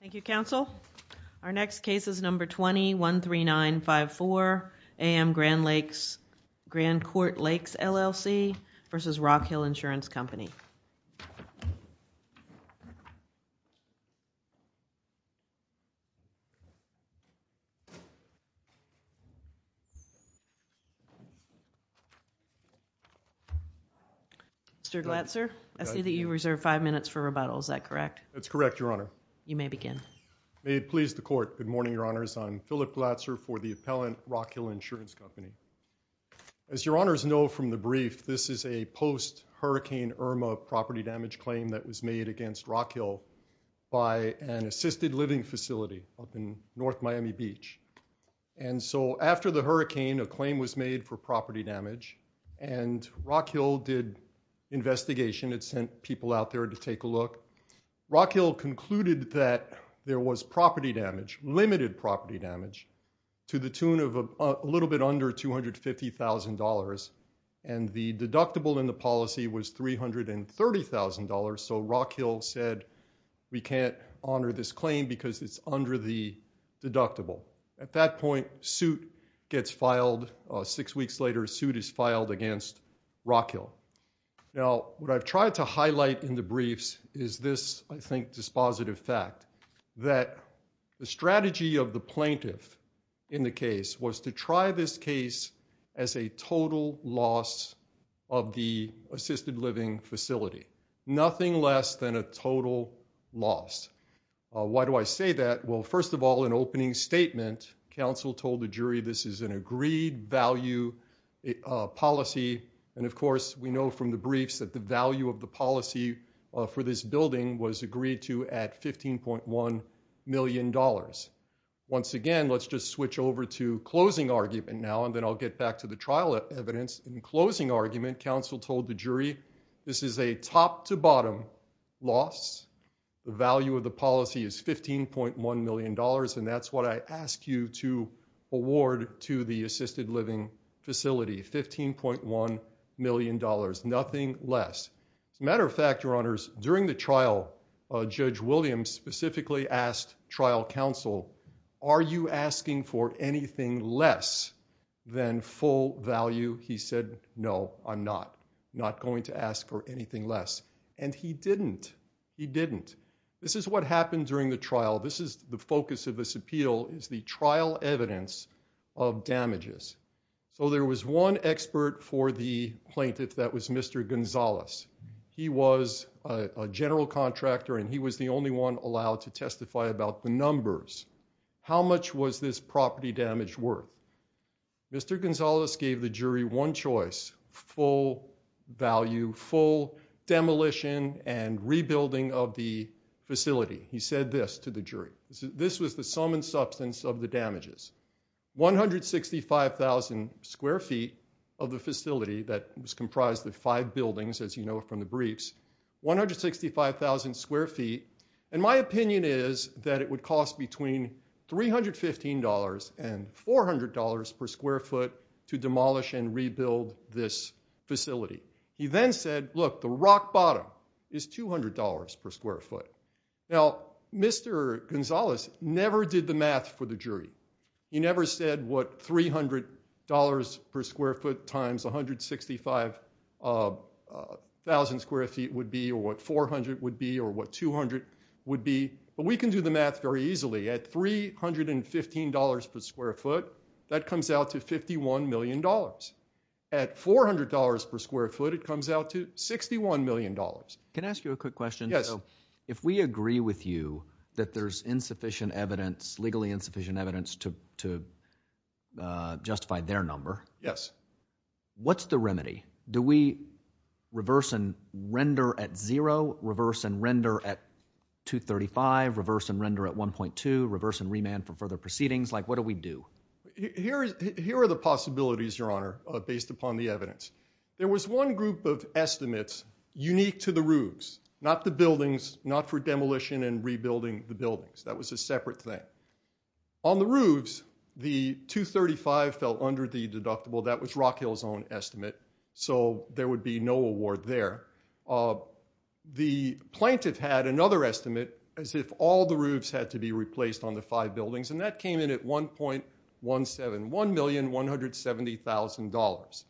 Thank you counsel. Our next case is number 213954 AM Grand Court Lakes LLC v. Rockhill Insurance Company. Mr. Glatzer, I see that you reserved five minutes for rebuttal, is that correct? That's correct, your honor. You may begin. May it please the court, good morning your honors, I'm Phillip Glatzer for the appellant, Rockhill Insurance Company. As your honors know from the brief, this is a post-hurricane Irma property damage claim that was made against Rockhill by an assisted living facility up in North Miami Beach. And so after the hurricane, a claim was made for property damage and Rockhill did investigation, it sent people out there to take a look. Rockhill concluded that there was property damage, limited property damage, to the tune of a little bit under $250,000 and the deductible in the policy was $330,000, so Rockhill said we can't honor this claim because it's under the deductible. At that point suit gets filed, six weeks later suit is filed against Rockhill. Now what I've highlight in the briefs is this, I think dispositive fact, that the strategy of the plaintiff in the case was to try this case as a total loss of the assisted living facility, nothing less than a total loss. Why do I say that? Well first of all, an opening statement, counsel told the jury this is an agreed value policy and of course we know from the briefs that the value of the policy for this building was agreed to at $15.1 million. Once again, let's just switch over to closing argument now and then I'll get back to the trial evidence. In closing argument, counsel told the jury this is a top-to-bottom loss, the value of the policy is $15.1 million and that's what I the assisted living facility, $15.1 million, nothing less. As a matter of fact, your honors, during the trial, Judge Williams specifically asked trial counsel, are you asking for anything less than full value? He said no, I'm not, not going to ask for anything less and he didn't, he didn't. This is what happened during the trial, this is the focus of this appeal, is the trial evidence of damages. So there was one expert for the plaintiff, that was Mr. Gonzalez, he was a general contractor and he was the only one allowed to testify about the numbers. How much was this property damage worth? Mr. Gonzalez gave the jury one choice, full value, full demolition and rebuilding of the facility. He said this to the jury, this was the sum and substance of the damages, 165,000 square feet of the facility that was comprised of five buildings, as you know from the briefs, 165,000 square feet and my opinion is that it would cost between $315 and $400 per square foot to demolish and rebuild this facility. He then said, look, the rock bottom is $200 per square foot. Now, Mr. Gonzalez never did the math for the jury, he never said what $300 per square foot times 165,000 square feet would be or what 400 would be or what 200 would be, but we can do the math very easily, at $315 per square foot, that comes out to $51 million. At $400 per square foot, it comes out to $61 million. Can I ask you a quick question? Yes. If we agree with you that there's insufficient evidence, legally insufficient evidence to justify their number. Yes. What's the remedy? Do we reverse and render at zero, reverse and render at 235, reverse and render at 1.2, reverse and remand for further proceedings, like what do we do, Your Honor, based upon the evidence? There was one group of estimates unique to the roofs, not the buildings, not for demolition and rebuilding the buildings, that was a separate thing. On the roofs, the 235 fell under the deductible, that was Rock Hill's own estimate, so there would be no award there. The plaintiff had another estimate as if all the roofs had to be replaced on the five buildings, and that came in at $1.171,170,000.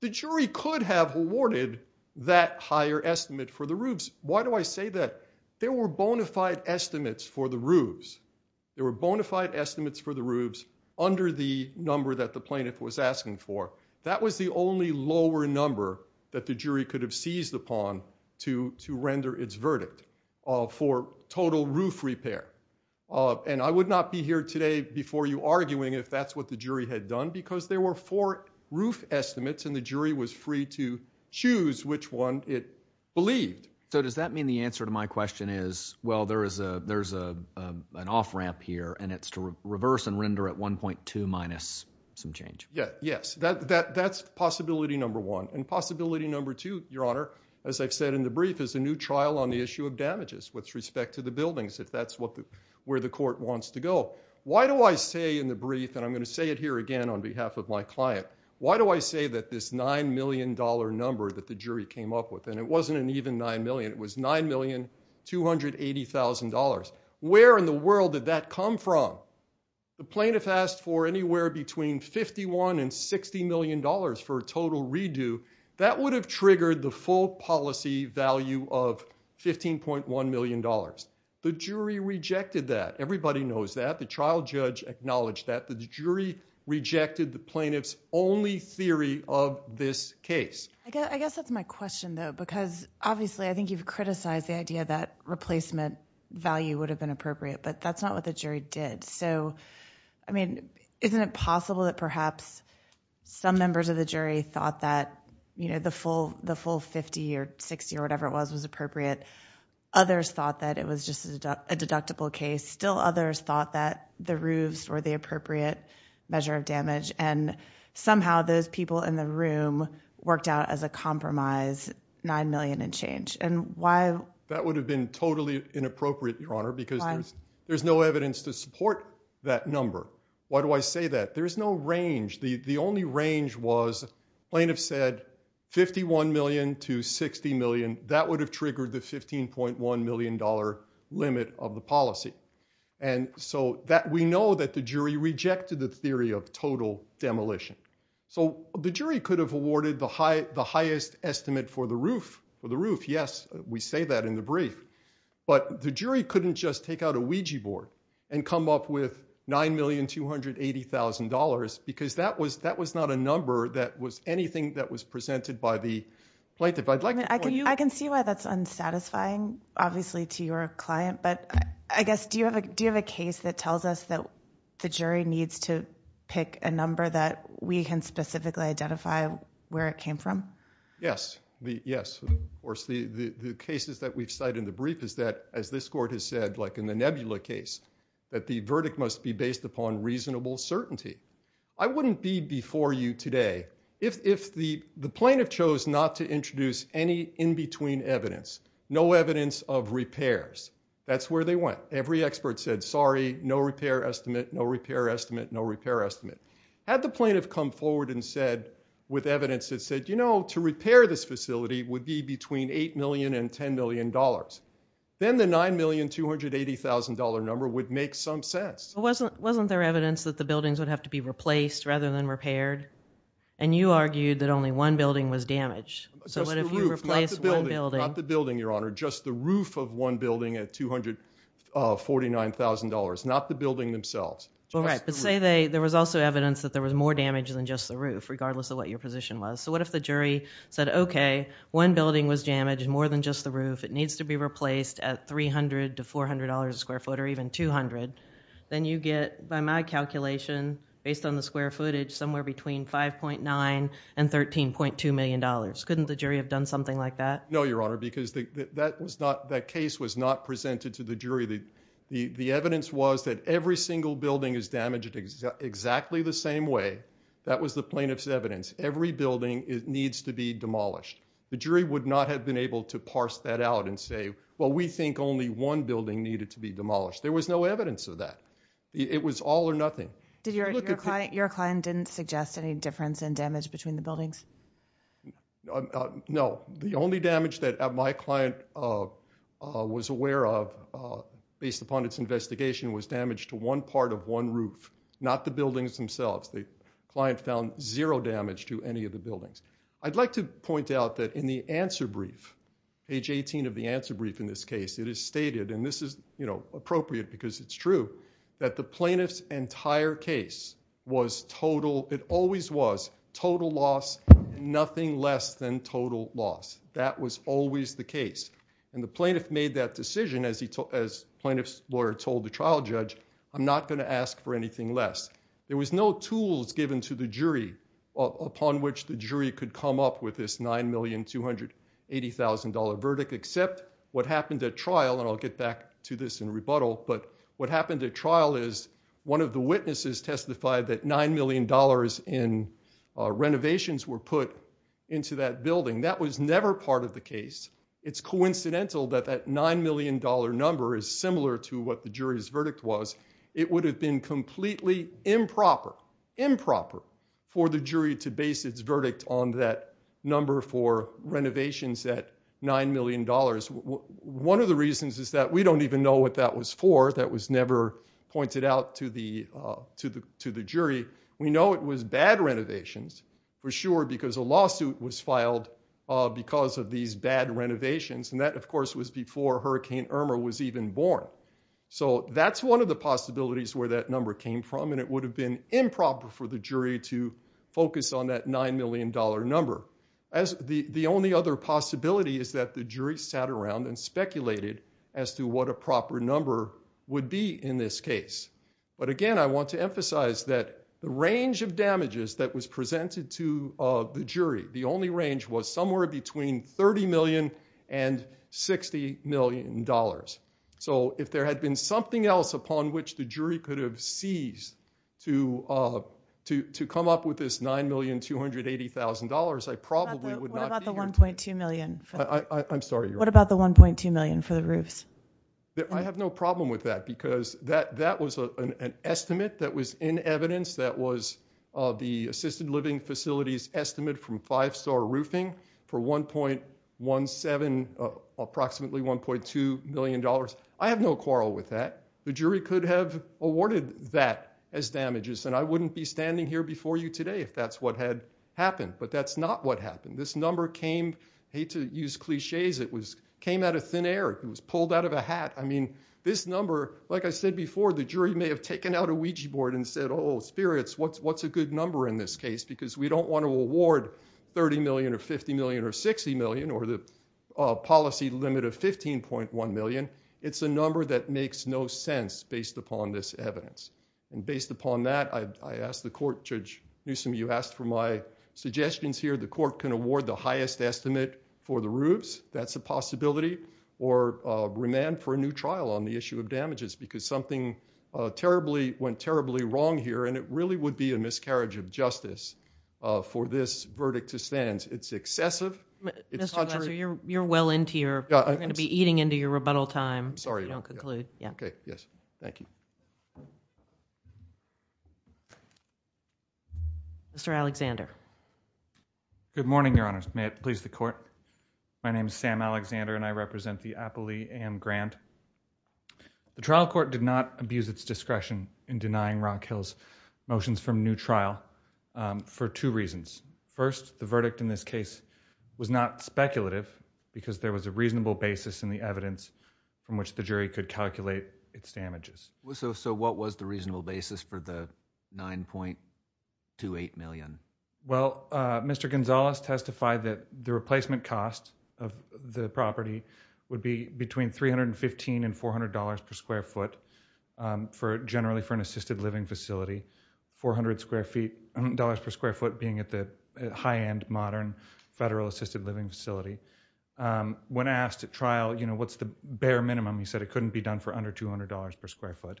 The jury could have awarded that higher estimate for the roofs. Why do I say that? There were bona fide estimates for the roofs. There were bona fide estimates for the roofs under the number that the plaintiff was asking for. That was the only lower number that the jury could have seized upon to render its verdict for total roof repair, and I would not be here today before you arguing if that's what the jury had done, because there were four roof estimates, and the jury was free to choose which one it believed. So does that mean the answer to my question is, well, there's an off-ramp here, and it's to reverse and render at 1.2 minus some change? Yes, that's possibility number one, and possibility number two, Your Honor, as I've said in the brief, is a new trial on the issue of damages with respect to the buildings, if that's where the court wants to go. Why do I say in the brief, and I'm going to say it here again on behalf of my client, why do I say that this $9 million number that the jury came up with, and it wasn't an even $9 million, it was $9,280,000. Where in the world did that come from? The plaintiff asked for anywhere between $51 and $60 million for a total redo. That would have triggered the full policy value of $15.1 million. The jury rejected that. Everybody knows that. The trial judge acknowledged that. The jury rejected the plaintiff's only theory of this case. I guess that's my question, though, because obviously I think you've criticized the idea that replacement value would have been appropriate, but that's not what the jury did. So, I mean, isn't it possible that perhaps some members of the jury thought that, you know, the full $50 or $60 or whatever it was was appropriate. Others thought that it was just a deductible case. Still others thought that the roofs were the appropriate measure of damage, and somehow those people in the room worked out as a compromise $9 million and change. And why? That would have been totally inappropriate, Your Honor, because there's no evidence to support that number. Why do I say that? There's no range, the only range was plaintiff said $51 million to $60 million. That would have triggered the $15.1 million limit of the policy. And so that we know that the jury rejected the theory of total demolition. So the jury could have awarded the highest estimate for the roof. For the roof, yes, we say that in the brief. But the jury couldn't just take out a Ouija board and come up with $9,280,000 because that was not a number that was anything that was presented by the plaintiff. I can see why that's unsatisfying, obviously, to your client. But I guess, do you have a case that tells us that the jury needs to pick a number that we can specifically identify where it came from? Yes, yes. Of course, the cases that we've cited in the brief is that, as this court has said, like in the Nebula case, that the verdict must be based upon reasonable certainty. I wouldn't be before you today if the plaintiff chose not to introduce any in-between evidence, no evidence of repairs. That's where they went. Every expert said, sorry, no repair estimate, no repair estimate, no repair estimate. Had the plaintiff come forward and said with evidence that said, you know, to repair this facility would be between $8 million and $10 million, then the $9,280,000 number would make some sense. Wasn't there evidence that the buildings would have to be replaced rather than repaired? And you argued that only one building was damaged. So what if you replace one building? Not the building, Your Honor, just the roof of one building at $249,000, not the building themselves. Right, but say there was also evidence that there was more damage than just the roof, regardless of what your position was. So what if the jury said, okay, one building was damaged, more than just the roof. It needs to be replaced at $300 to $400 a square foot or even $200. Then you get, by my calculation, based on the square footage, somewhere between $5.9 and $13.2 million. Couldn't the jury have done something like that? No, Your Honor, because that case was not presented to the jury. The evidence was that every single building is damaged exactly the same way. That was the plaintiff's evidence. Every demolished. The jury would not have been able to parse that out and say, well, we think only one building needed to be demolished. There was no evidence of that. It was all or nothing. Did your client, your client didn't suggest any difference in damage between the buildings? No, the only damage that my client was aware of, based upon its investigation, was damage to one part of one roof, not the buildings themselves. The client found zero damage to any of the buildings. I'd like to point out that in the answer brief, age 18 of the answer brief in this case, it is stated, and this is appropriate because it's true, that the plaintiff's entire case was total, it always was, total loss, nothing less than total loss. That was always the case. And the plaintiff made that decision, as plaintiff's lawyer told the trial judge, I'm not going to ask for anything less. There was no tools given to the jury upon which the jury could come up with this $9,280,000 verdict, except what happened at trial, and I'll get back to this in rebuttal, but what happened at trial is one of the witnesses testified that $9 million in renovations were put into that building. That was never part of the case. It's coincidental that that $9 million number is similar to what the jury's verdict was. It would have been completely improper, improper for the jury to base its verdict on that number for renovations at $9 million. One of the reasons is that we don't even know what that was for, that was never pointed out to the jury. We know it was bad renovations, for sure, because a lawsuit was filed because of these bad renovations, and that, of course, was before Hurricane Irma was even born. So that's one of the possibilities where that number came from, and it would have been improper for the jury to focus on that $9 million number. The only other possibility is that the jury sat around and speculated as to what a proper number would be in this case. But again, I want to emphasize that the range of damages that was So if there had been something else upon which the jury could have seized to come up with this $9,280,000, I probably would not be here today. What about the $1.2 million for the roofs? I have no problem with that, because that was an estimate that was in evidence that was the assisted living facilities estimate from five-star roofing for approximately $1.2 million. I have no quarrel with that. The jury could have awarded that as damages, and I wouldn't be standing here before you today if that's what had happened, but that's not what happened. This number came, I hate to use cliches, it came out of thin air. It was pulled out of a hat. I mean, this number, like I said before, the jury may have taken out a Ouija board and said, spirits, what's a good number in this case? Because we don't want to award 30 million or 50 million or 60 million or the policy limit of 15.1 million. It's a number that makes no sense based upon this evidence. And based upon that, I asked the court, Judge Newsom, you asked for my suggestions here. The court can award the highest estimate for the roofs, that's a possibility, or remand for a new trial on the issue of damages, because something went terribly wrong here, and it really would be a miscarriage of justice for this verdict to stand. It's excessive. Mr. Glasser, you're well into your, you're going to be eating into your rebuttal time if you don't conclude. Yes, thank you. Mr. Alexander. Good morning, Your Honors. May it please the court. My name is Sam Alexander, and I represent the Appalachian Grant. The trial court did not abuse its discretion in denying Rock Hills motions from new trial for two reasons. First, the verdict in this case was not speculative because there was a reasonable basis in the evidence from which the jury could calculate its damages. So what was the reasonable basis for the 9.28 million? Well, Mr. Gonzalez testified that the replacement cost of the property would be between $315 and $400 per square foot, generally for an assisted living facility, $400 per square foot being at the high-end modern federal assisted living facility. When asked at trial, you know, what's the bare minimum, he said it couldn't be done for under $200 per square foot.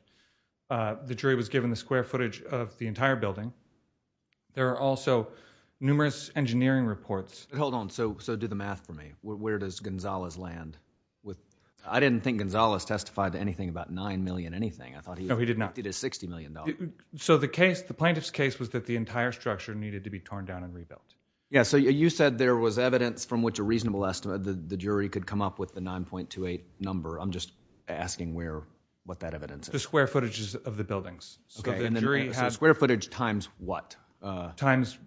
The jury was given the numerous engineering reports. Hold on. So do the math for me. Where does Gonzalez land? I didn't think Gonzalez testified to anything about $9 million, anything. I thought he did his $60 million. So the case, the plaintiff's case was that the entire structure needed to be torn down and rebuilt. Yeah. So you said there was evidence from which a reasonable estimate the jury could come up with the 9.28 number. I'm just asking what that evidence is. The square footage times what? Times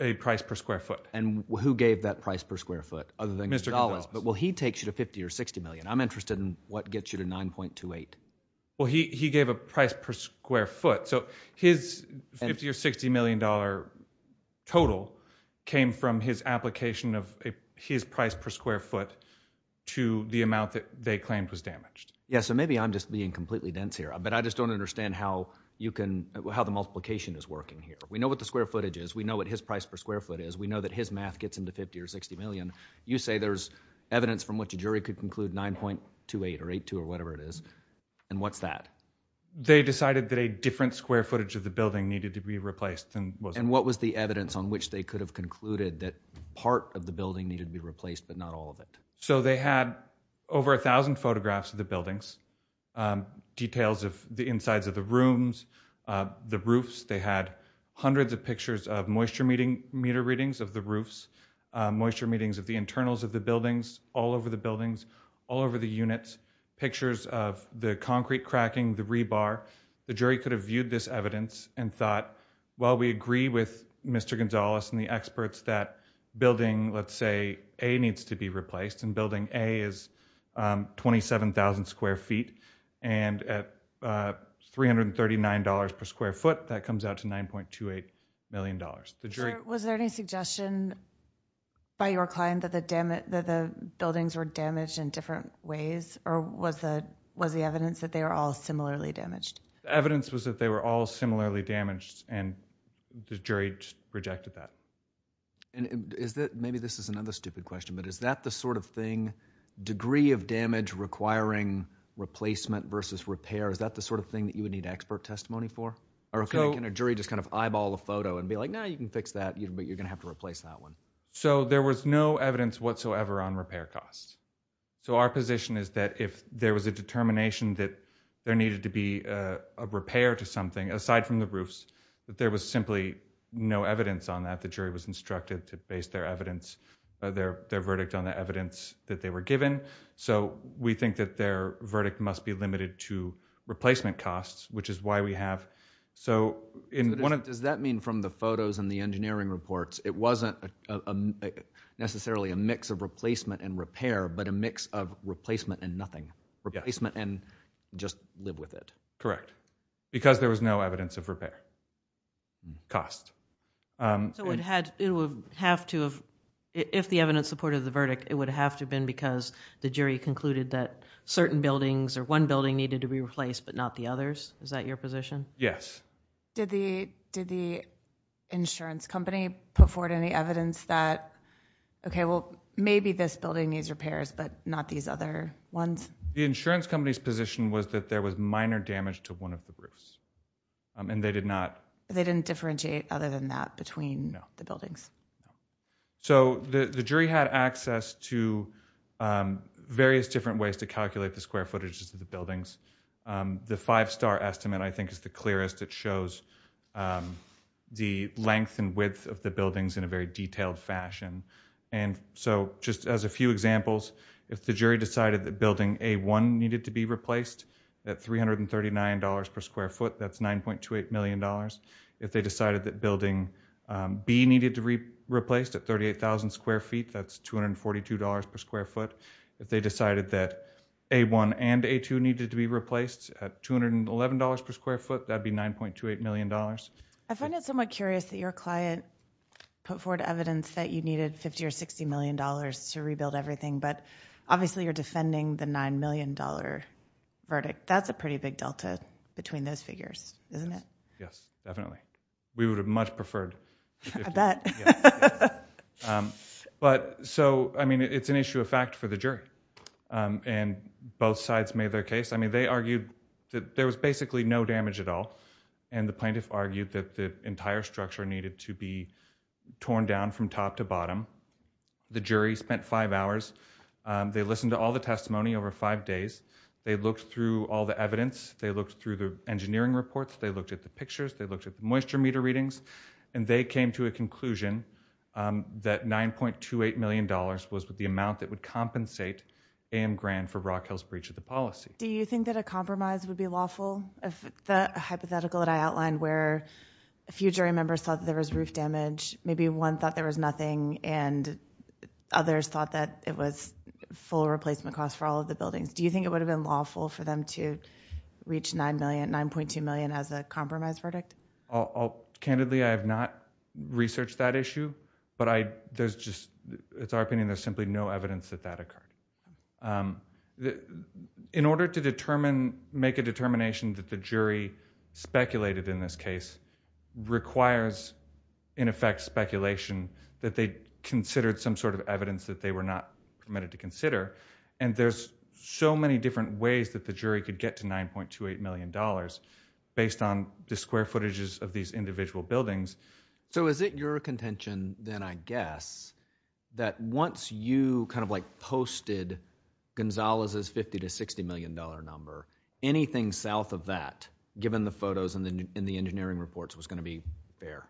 a price per square foot. And who gave that price per square foot other than Gonzalez? Well, he takes you to $50 or $60 million. I'm interested in what gets you to 9.28. Well, he gave a price per square foot. So his $50 or $60 million total came from his application of his price per square foot to the amount that they claimed was damaged. Yeah. So maybe I'm just being completely dense here, but I just don't understand how you can, how the multiplication is working here. We know what the square footage is. We know what his price per square foot is. We know that his math gets into $50 or $60 million. You say there's evidence from which a jury could conclude 9.28 or 8.2 or whatever it is. And what's that? They decided that a different square footage of the building needed to be replaced. And what was the evidence on which they could have concluded that part of the building needed to be replaced, but not all of it? So they had over a thousand photographs of the buildings, details of the insides of the rooms, the roofs. They had hundreds of pictures of moisture meter readings of the roofs, moisture meetings of the internals of the buildings, all over the buildings, all over the units, pictures of the concrete cracking, the rebar. The jury could have viewed this evidence and thought, well, we agree with Mr. Gonzalez and the experts that building, let's say A needs to be replaced and building A is 27,000 square feet. And at $339 per square foot, that comes out to $9.28 million. Was there any suggestion by your client that the buildings were damaged in different ways or was the evidence that they were all similarly damaged? The evidence was that they were all similarly damaged and the jury rejected that. Maybe this is another stupid question, but is that the sort of thing, degree of damage requiring replacement versus repair, is that the sort of thing that you would need expert testimony for? Or can a jury just kind of eyeball a photo and be like, no, you can fix that, but you're going to have to replace that one. So there was no evidence whatsoever on repair costs. So our position is that if there was a determination that there needed to be a repair to something aside from the roofs, that there was simply no evidence on that. The jury was instructed to base their evidence, their verdict on the evidence that they were given. So we think that their verdict must be limited to replacement costs, which is why we have... So in one of... Does that mean from the photos and the engineering reports, it wasn't necessarily a mix of replacement and repair, but a mix of replacement and nothing, replacement and just live with it? Correct. Because there was no evidence of repair costs. So it would have to have... If the evidence supported the verdict, it would have to have been because the jury concluded that certain buildings or one building needed to be replaced, but not the others. Is that your position? Yes. Did the insurance company put forward any evidence that, okay, well, maybe this building needs repairs, but not these other ones? The insurance company's position was that there was minor damage to one of the roofs, and they did not... They didn't differentiate other than that between the buildings? No. So the jury had access to various different ways to calculate the square footages of the buildings. The five star estimate, I think, is the clearest. It shows the length and width of the buildings in a very short period of time. If they decided that building A1 needed to be replaced at $339 per square foot, that's $9.28 million. If they decided that building B needed to be replaced at 38,000 square feet, that's $242 per square foot. If they decided that A1 and A2 needed to be replaced at $211 per square foot, that'd be $9.28 million. I find it somewhat curious that your client put forward evidence that you needed 50 or $60 million to rebuild everything, but obviously you're defending the $9 million verdict. That's a pretty big delta between those figures, isn't it? Yes, definitely. We would have much preferred... I bet. But so, I mean, it's an issue of fact for the jury, and both sides made their case. I mean, they argued that there was basically no damage at all, and the plaintiff argued that the entire structure needed to be torn down from top to bottom. The jury spent five hours. They listened to all the testimony over five days. They looked through all the evidence. They looked through the engineering reports. They looked at the pictures. They looked at the moisture meter readings, and they came to a conclusion that $9.28 million was the amount that would compensate A.M. Grand for Rockhill's breach of the policy. Do you think that a compromise would be lawful, the hypothetical that I outlined where a few jury members thought that there was roof damage, maybe one thought there was nothing, and others thought that it was full replacement costs for all of the buildings? Do you think it would have been lawful for them to reach $9.2 million as a compromise verdict? Candidly, I have not researched that issue, but there's just... It's our opinion. There's simply no evidence that that occurred. In order to make a determination that the jury speculated in this case requires, in effect, speculation that they considered some sort of evidence that they were not permitted to consider. There's so many different ways that the jury could get to $9.28 million based on the square footages of these individual buildings. Is it your contention then, I guess, that once you posted Gonzalez's $50 to $60 million number, anything south of that, given the photos and the engineering reports, was going to be fair?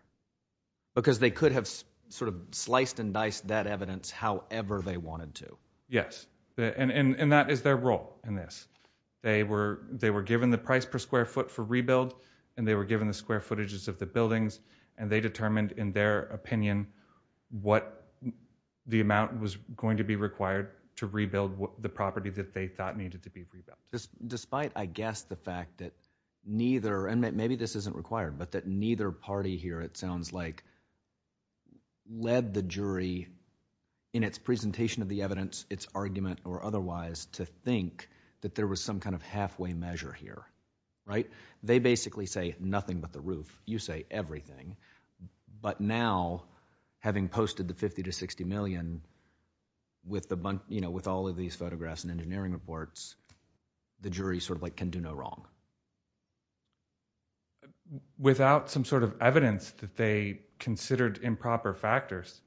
Because they could have sort of sliced and diced that evidence however they wanted to. Yes. And that is their role in this. They were given the price per square foot for rebuild, and they were given the square footages of the buildings, and they determined in their opinion what the amount was going to be required to rebuild the property that they thought needed to be rebuilt. Despite, I guess, the fact that neither... And maybe this isn't required, but that neither party here, it sounds like, led the jury in its presentation of the evidence, its argument or otherwise, to think that there was some kind of halfway measure here. They basically say nothing but the roof. You say everything. But now, having posted the $50 to $60 million with all of these photographs and engineering reports, the jury can do no wrong. Without some sort of evidence that they considered improper factors,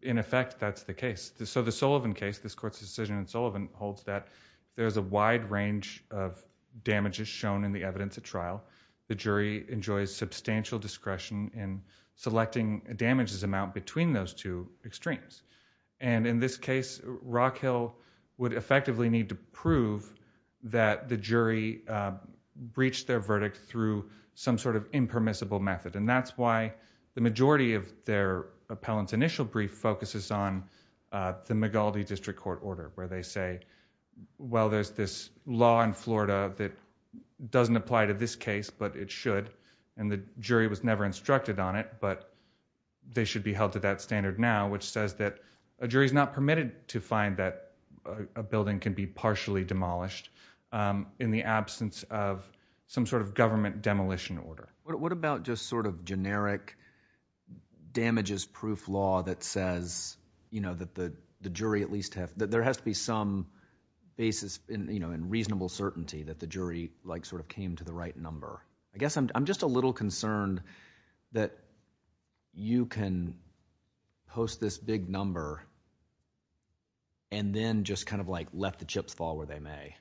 in effect, that's the case. The Sullivan case, this court's decision in Sullivan, holds that there's a wide range of damages shown in the evidence at trial. The jury enjoys substantial discretion in selecting a damages amount between those two extremes. And in this case, Rockhill would effectively need to prove that the jury breached their verdict through some sort of impermissible method. And that's why the majority of their appellant's initial brief focuses on the Migaldi District Court order, where they say, well, there's this law in Florida that jury was never instructed on it, but they should be held to that standard now, which says that a jury's not permitted to find that a building can be partially demolished in the absence of some sort of government demolition order. What about just sort of generic damages proof law that says, you know, that the jury at least have, that there has to be some basis in, you know, in reasonable certainty that the jury, like, sort of came to the right number? I guess I'm just a little concerned that you can post this big number and then just kind of, like, let the chips fall where they may.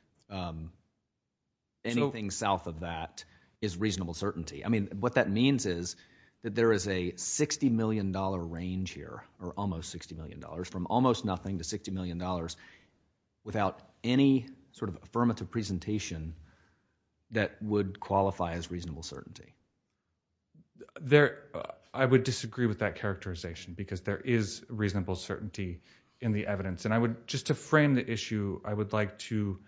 Anything south of that is reasonable certainty. I mean, what that means is that there is a $60 million range here, or almost $60 million, from almost nothing to $60 million, without any sort of affirmative presentation that would qualify as reasonable certainty. There, I would disagree with that characterization, because there is reasonable certainty in the evidence. And I would, just to frame the issue, I would like to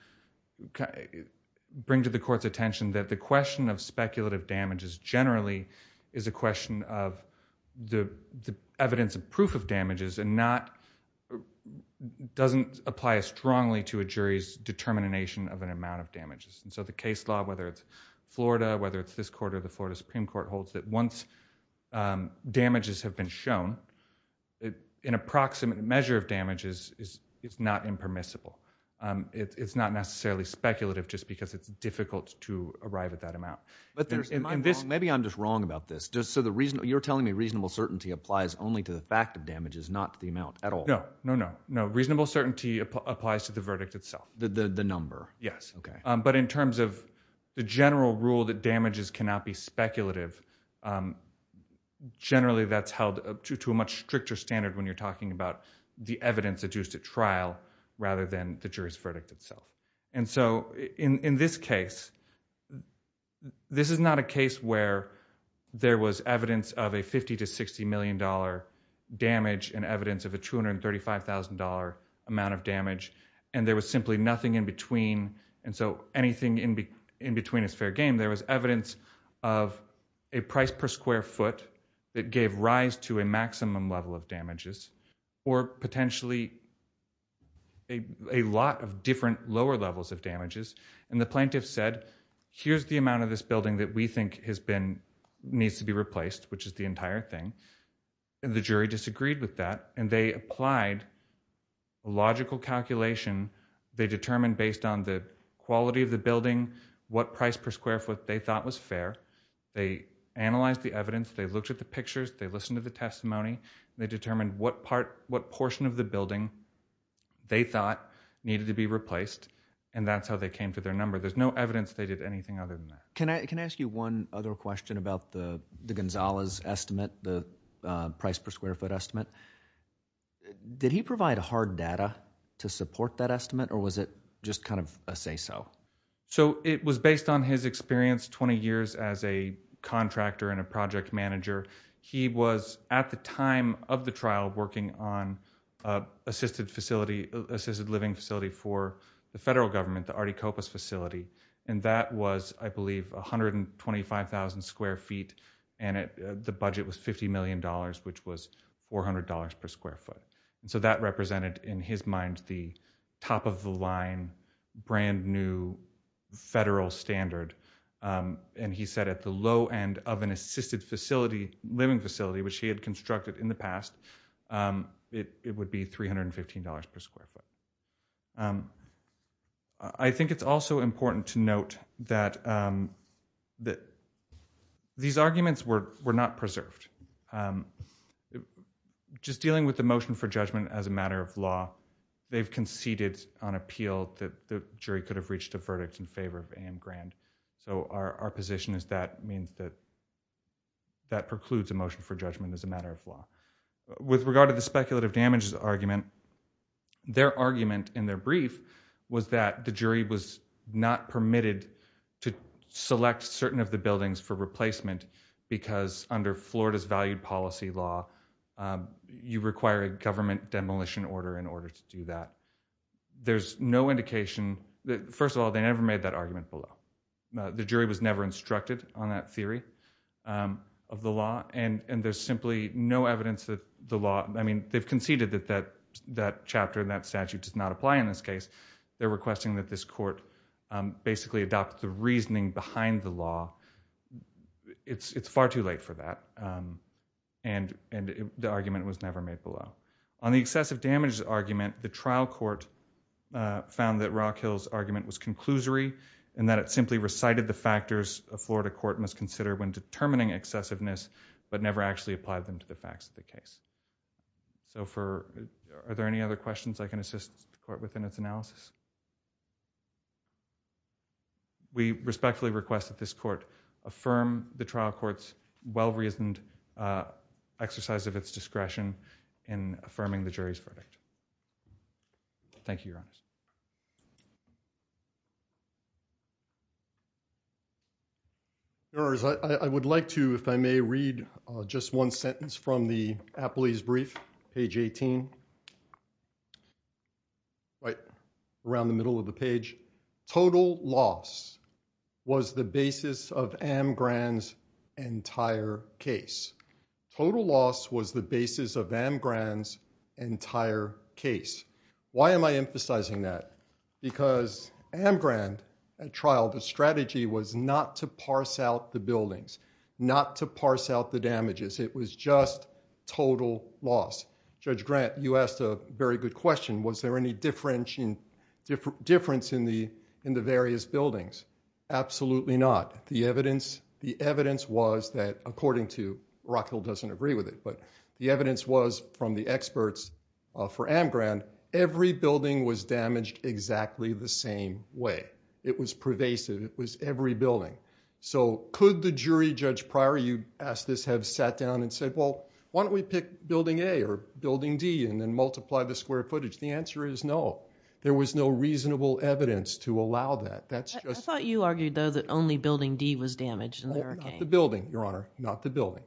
bring to the Court's attention that the question of speculative damages generally is a question of the evidence of proof of damages and not, doesn't apply as strongly to a jury's determination of an amount of damages. And so the case law, whether it's Florida, whether it's this Court or the Florida Supreme Court, holds that once damages have been shown, an approximate measure of damage is not impermissible. It's not necessarily speculative just because it's difficult to arrive at that amount. But there's, am I wrong? Maybe I'm just wrong about this. Just so the reason, you're telling me reasonable certainty applies only to the fact of damages, not the amount at all. No, no, no, no. Reasonable certainty applies to the verdict itself. The number. Yes. Okay. But in terms of the general rule that damages cannot be speculative, generally that's held to a much stricter standard when you're talking about the evidence adduced at trial rather than the jury's verdict itself. And so in this case, this is not a case where there was evidence of a $50 to $60 million damage and evidence of a $235,000 amount of damage, and there was simply nothing in between. And so anything in between is fair game. There was evidence of a price per lower levels of damages. And the plaintiff said, here's the amount of this building that we think has been, needs to be replaced, which is the entire thing. And the jury disagreed with that. And they applied a logical calculation. They determined based on the quality of the building, what price per square foot they thought was fair. They analyzed the evidence. They looked at the pictures. They listened to the testimony. They determined what part, what portion of the building they thought needed to be replaced, and that's how they came to their number. There's no evidence they did anything other than that. Can I ask you one other question about the Gonzalez estimate, the price per square foot estimate? Did he provide hard data to support that estimate, or was it just kind of a say-so? So it was based on his experience 20 years as a contractor and a assisted living facility for the federal government, the Articopos facility. And that was, I believe, 125,000 square feet. And the budget was $50 million, which was $400 per square foot. And so that represented, in his mind, the top of the line, brand new federal standard. And he said at the low end of an assisted facility, living facility, which he had constructed in the $15 per square foot. I think it's also important to note that these arguments were not preserved. Just dealing with the motion for judgment as a matter of law, they've conceded on appeal that the jury could have reached a verdict in favor of A.M. Grand. So our position is that means that that precludes a motion for judgment as a matter of law. With regard to the speculative damages argument, their argument in their brief was that the jury was not permitted to select certain of the buildings for replacement because under Florida's valued policy law, you require a government demolition order in order to do that. There's no indication. First of all, they never made that argument below. The jury was never the law. I mean, they've conceded that that chapter and that statute does not apply in this case. They're requesting that this court basically adopt the reasoning behind the law. It's far too late for that. And the argument was never made below. On the excessive damages argument, the trial court found that Rockhill's argument was conclusory and that it simply recited the factors a Florida court must consider when determining excessiveness, but never actually applied them to the facts of the case. So are there any other questions I can assist the court within its analysis? We respectfully request that this court affirm the trial court's well-reasoned exercise of its discretion in affirming the jury's verdict. Thank you, Your Honor. Your Honor, I would like to, if I may, read just one sentence from the Appley's brief, page 18, right around the middle of the page. Total loss was the basis of Amgran's entire case. Total loss was the basis of Amgran's entire case. Why am I emphasizing that? Because Amgran, at trial, the strategy was not to parse out the buildings, not to parse out the damages. It was just total loss. Judge Grant, you asked a very good question. Was there any difference in the various buildings? Absolutely not. The evidence was that, according to, Rockhill doesn't agree with it, but the evidence was from the experts for Amgran, every building was damaged exactly the same way. It was pervasive. It was every building. So could the jury, Judge Pryor, you asked this, have sat down and said, well, why don't we pick building A or building D and then multiply the square footage? The answer is no. There was no reasonable evidence to allow that. I thought you argued, though, that only building D was damaged in the hurricane. Not the building, Your Honor. Not the building.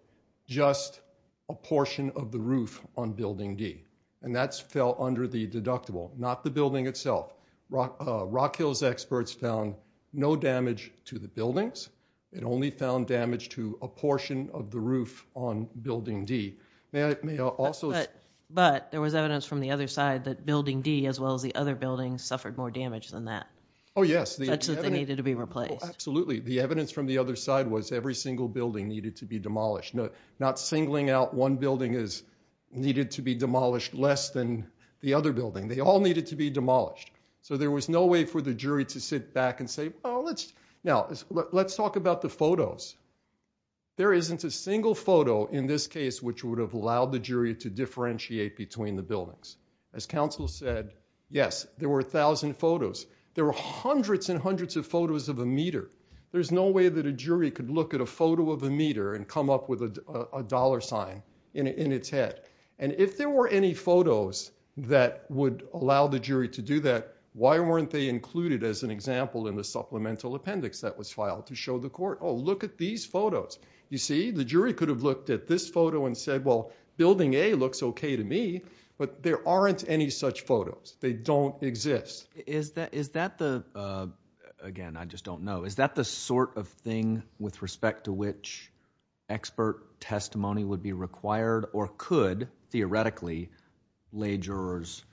Just a portion of the roof on building D. And that fell under the deductible. Not the building itself. Rockhill's experts found no damage to the buildings. It only found damage to a portion of the roof on building D. May I also... But there was evidence from the other side that building D, as well as the other buildings, suffered more damage than that. Oh, yes. That's what they needed to be replaced. Absolutely. The evidence from the other side was every single building needed to be demolished. Not singling out one building as needed to be demolished less than the other building. They all needed to be demolished. So there was no way for the jury to sit back and say, oh, let's... Now, let's talk about the photos. There isn't a single photo in this case which would have allowed the jury to differentiate between the buildings. As counsel said, yes, there were a thousand photos. There were hundreds and hundreds of photos of a meter. There's no way that a jury could look at a photo of a meter and come up with a dollar sign in its head. And if there were any photos that would allow the jury to do that, why weren't they included as an example in the supplemental appendix that was filed to show the court, oh, look at these photos. You see? The jury could have looked at this photo and said, well, building A looks okay to me, but there aren't any such photos. They don't exist. Is that the... Again, I just don't know. Is that the sort of thing with respect to which expert testimony would be required or could, theoretically, lay jurors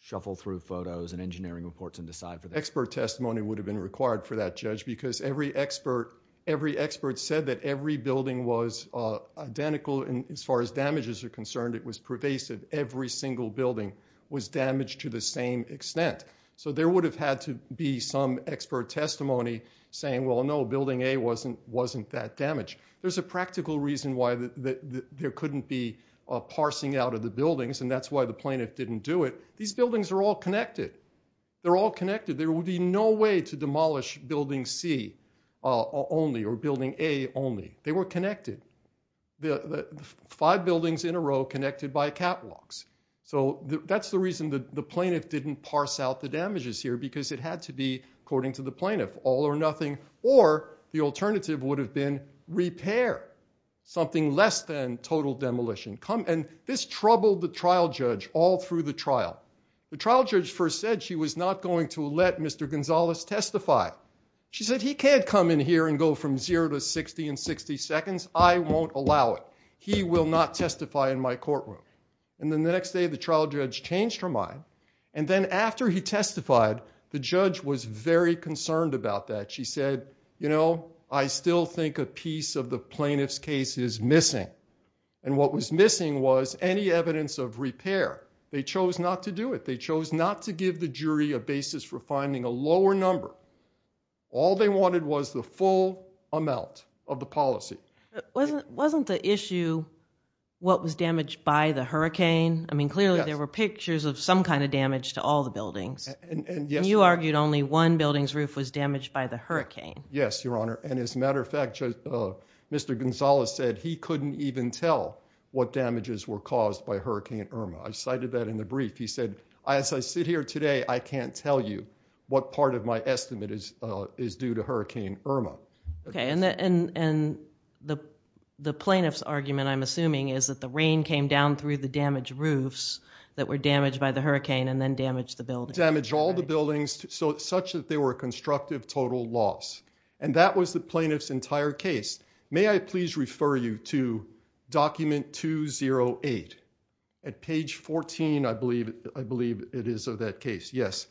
shuffle through photos and engineering reports and decide? Expert testimony would have been required for that, Judge, because every expert said that every building was identical as far as damages are concerned. It was pervasive. Every single building was damaged to the same extent. So there would have had to be some expert testimony saying, well, no, building A wasn't that damaged. There's a practical reason why there couldn't be parsing out of the buildings, and that's why the plaintiff didn't do it. These buildings are all connected. They're all connected. There would be no way to demolish building C only or building A only. They were connected. The five buildings in a row connected by catwalks. So that's the reason that the plaintiff didn't parse out the damages here, because it had to be, according to the plaintiff, all or nothing, or the alternative would have been repair, something less than total demolition. And this troubled the trial judge all through the trial. The trial judge first said she was not going to let Mr. Gonzalez testify. She said, he can't come in here and go from zero to 60 in 60 seconds. I won't allow it. He will not testify in my courtroom. And then the next day, the trial judge changed her mind. And then after he testified, the judge was very concerned about that. She said, you know, I still think a piece of the plaintiff's case is missing. And what was missing was any evidence of repair. They chose not to do it. They chose not to give the jury a basis for finding a lower number. All they wanted was the full amount of the policy wasn't wasn't the issue. What was damaged by the hurricane? I mean, clearly, there were pictures of some kind of damage to all the buildings. And you argued only one building's roof was damaged by the hurricane. Yes, Your Honor. And as a matter of fact, Mr. Gonzalez said he couldn't even tell what damages were caused by Hurricane Irma. I cited that in the brief. He said, as I sit here today, I can't tell you what part of my estimate is due to Hurricane Irma. Okay. And the plaintiff's argument, I'm assuming, is that the rain came down through the damaged roofs that were damaged by the hurricane and then damaged the buildings. Damaged all the buildings, such that they were a constructive total loss. And that was the it is of that case. Yes.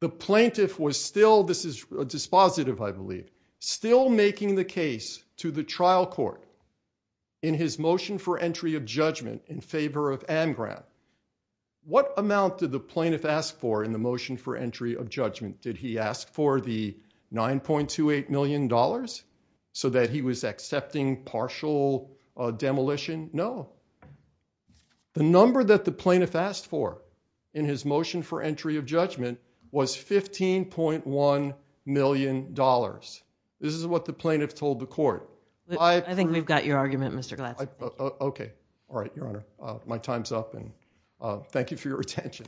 The plaintiff was still, this is a dispositive, I believe, still making the case to the trial court in his motion for entry of judgment in favor of Anne Graham. What amount did the plaintiff ask for in the motion for entry of judgment? Did he ask for the nine point two eight million dollars so that he was accepting partial demolition? No. The number that the plaintiff asked for in his motion for entry of judgment was fifteen point one million dollars. This is what the plaintiff told the court. I think we've got your argument, Mr. Glass. Okay. All right, Your Honor. My time's up and thank you for your attention.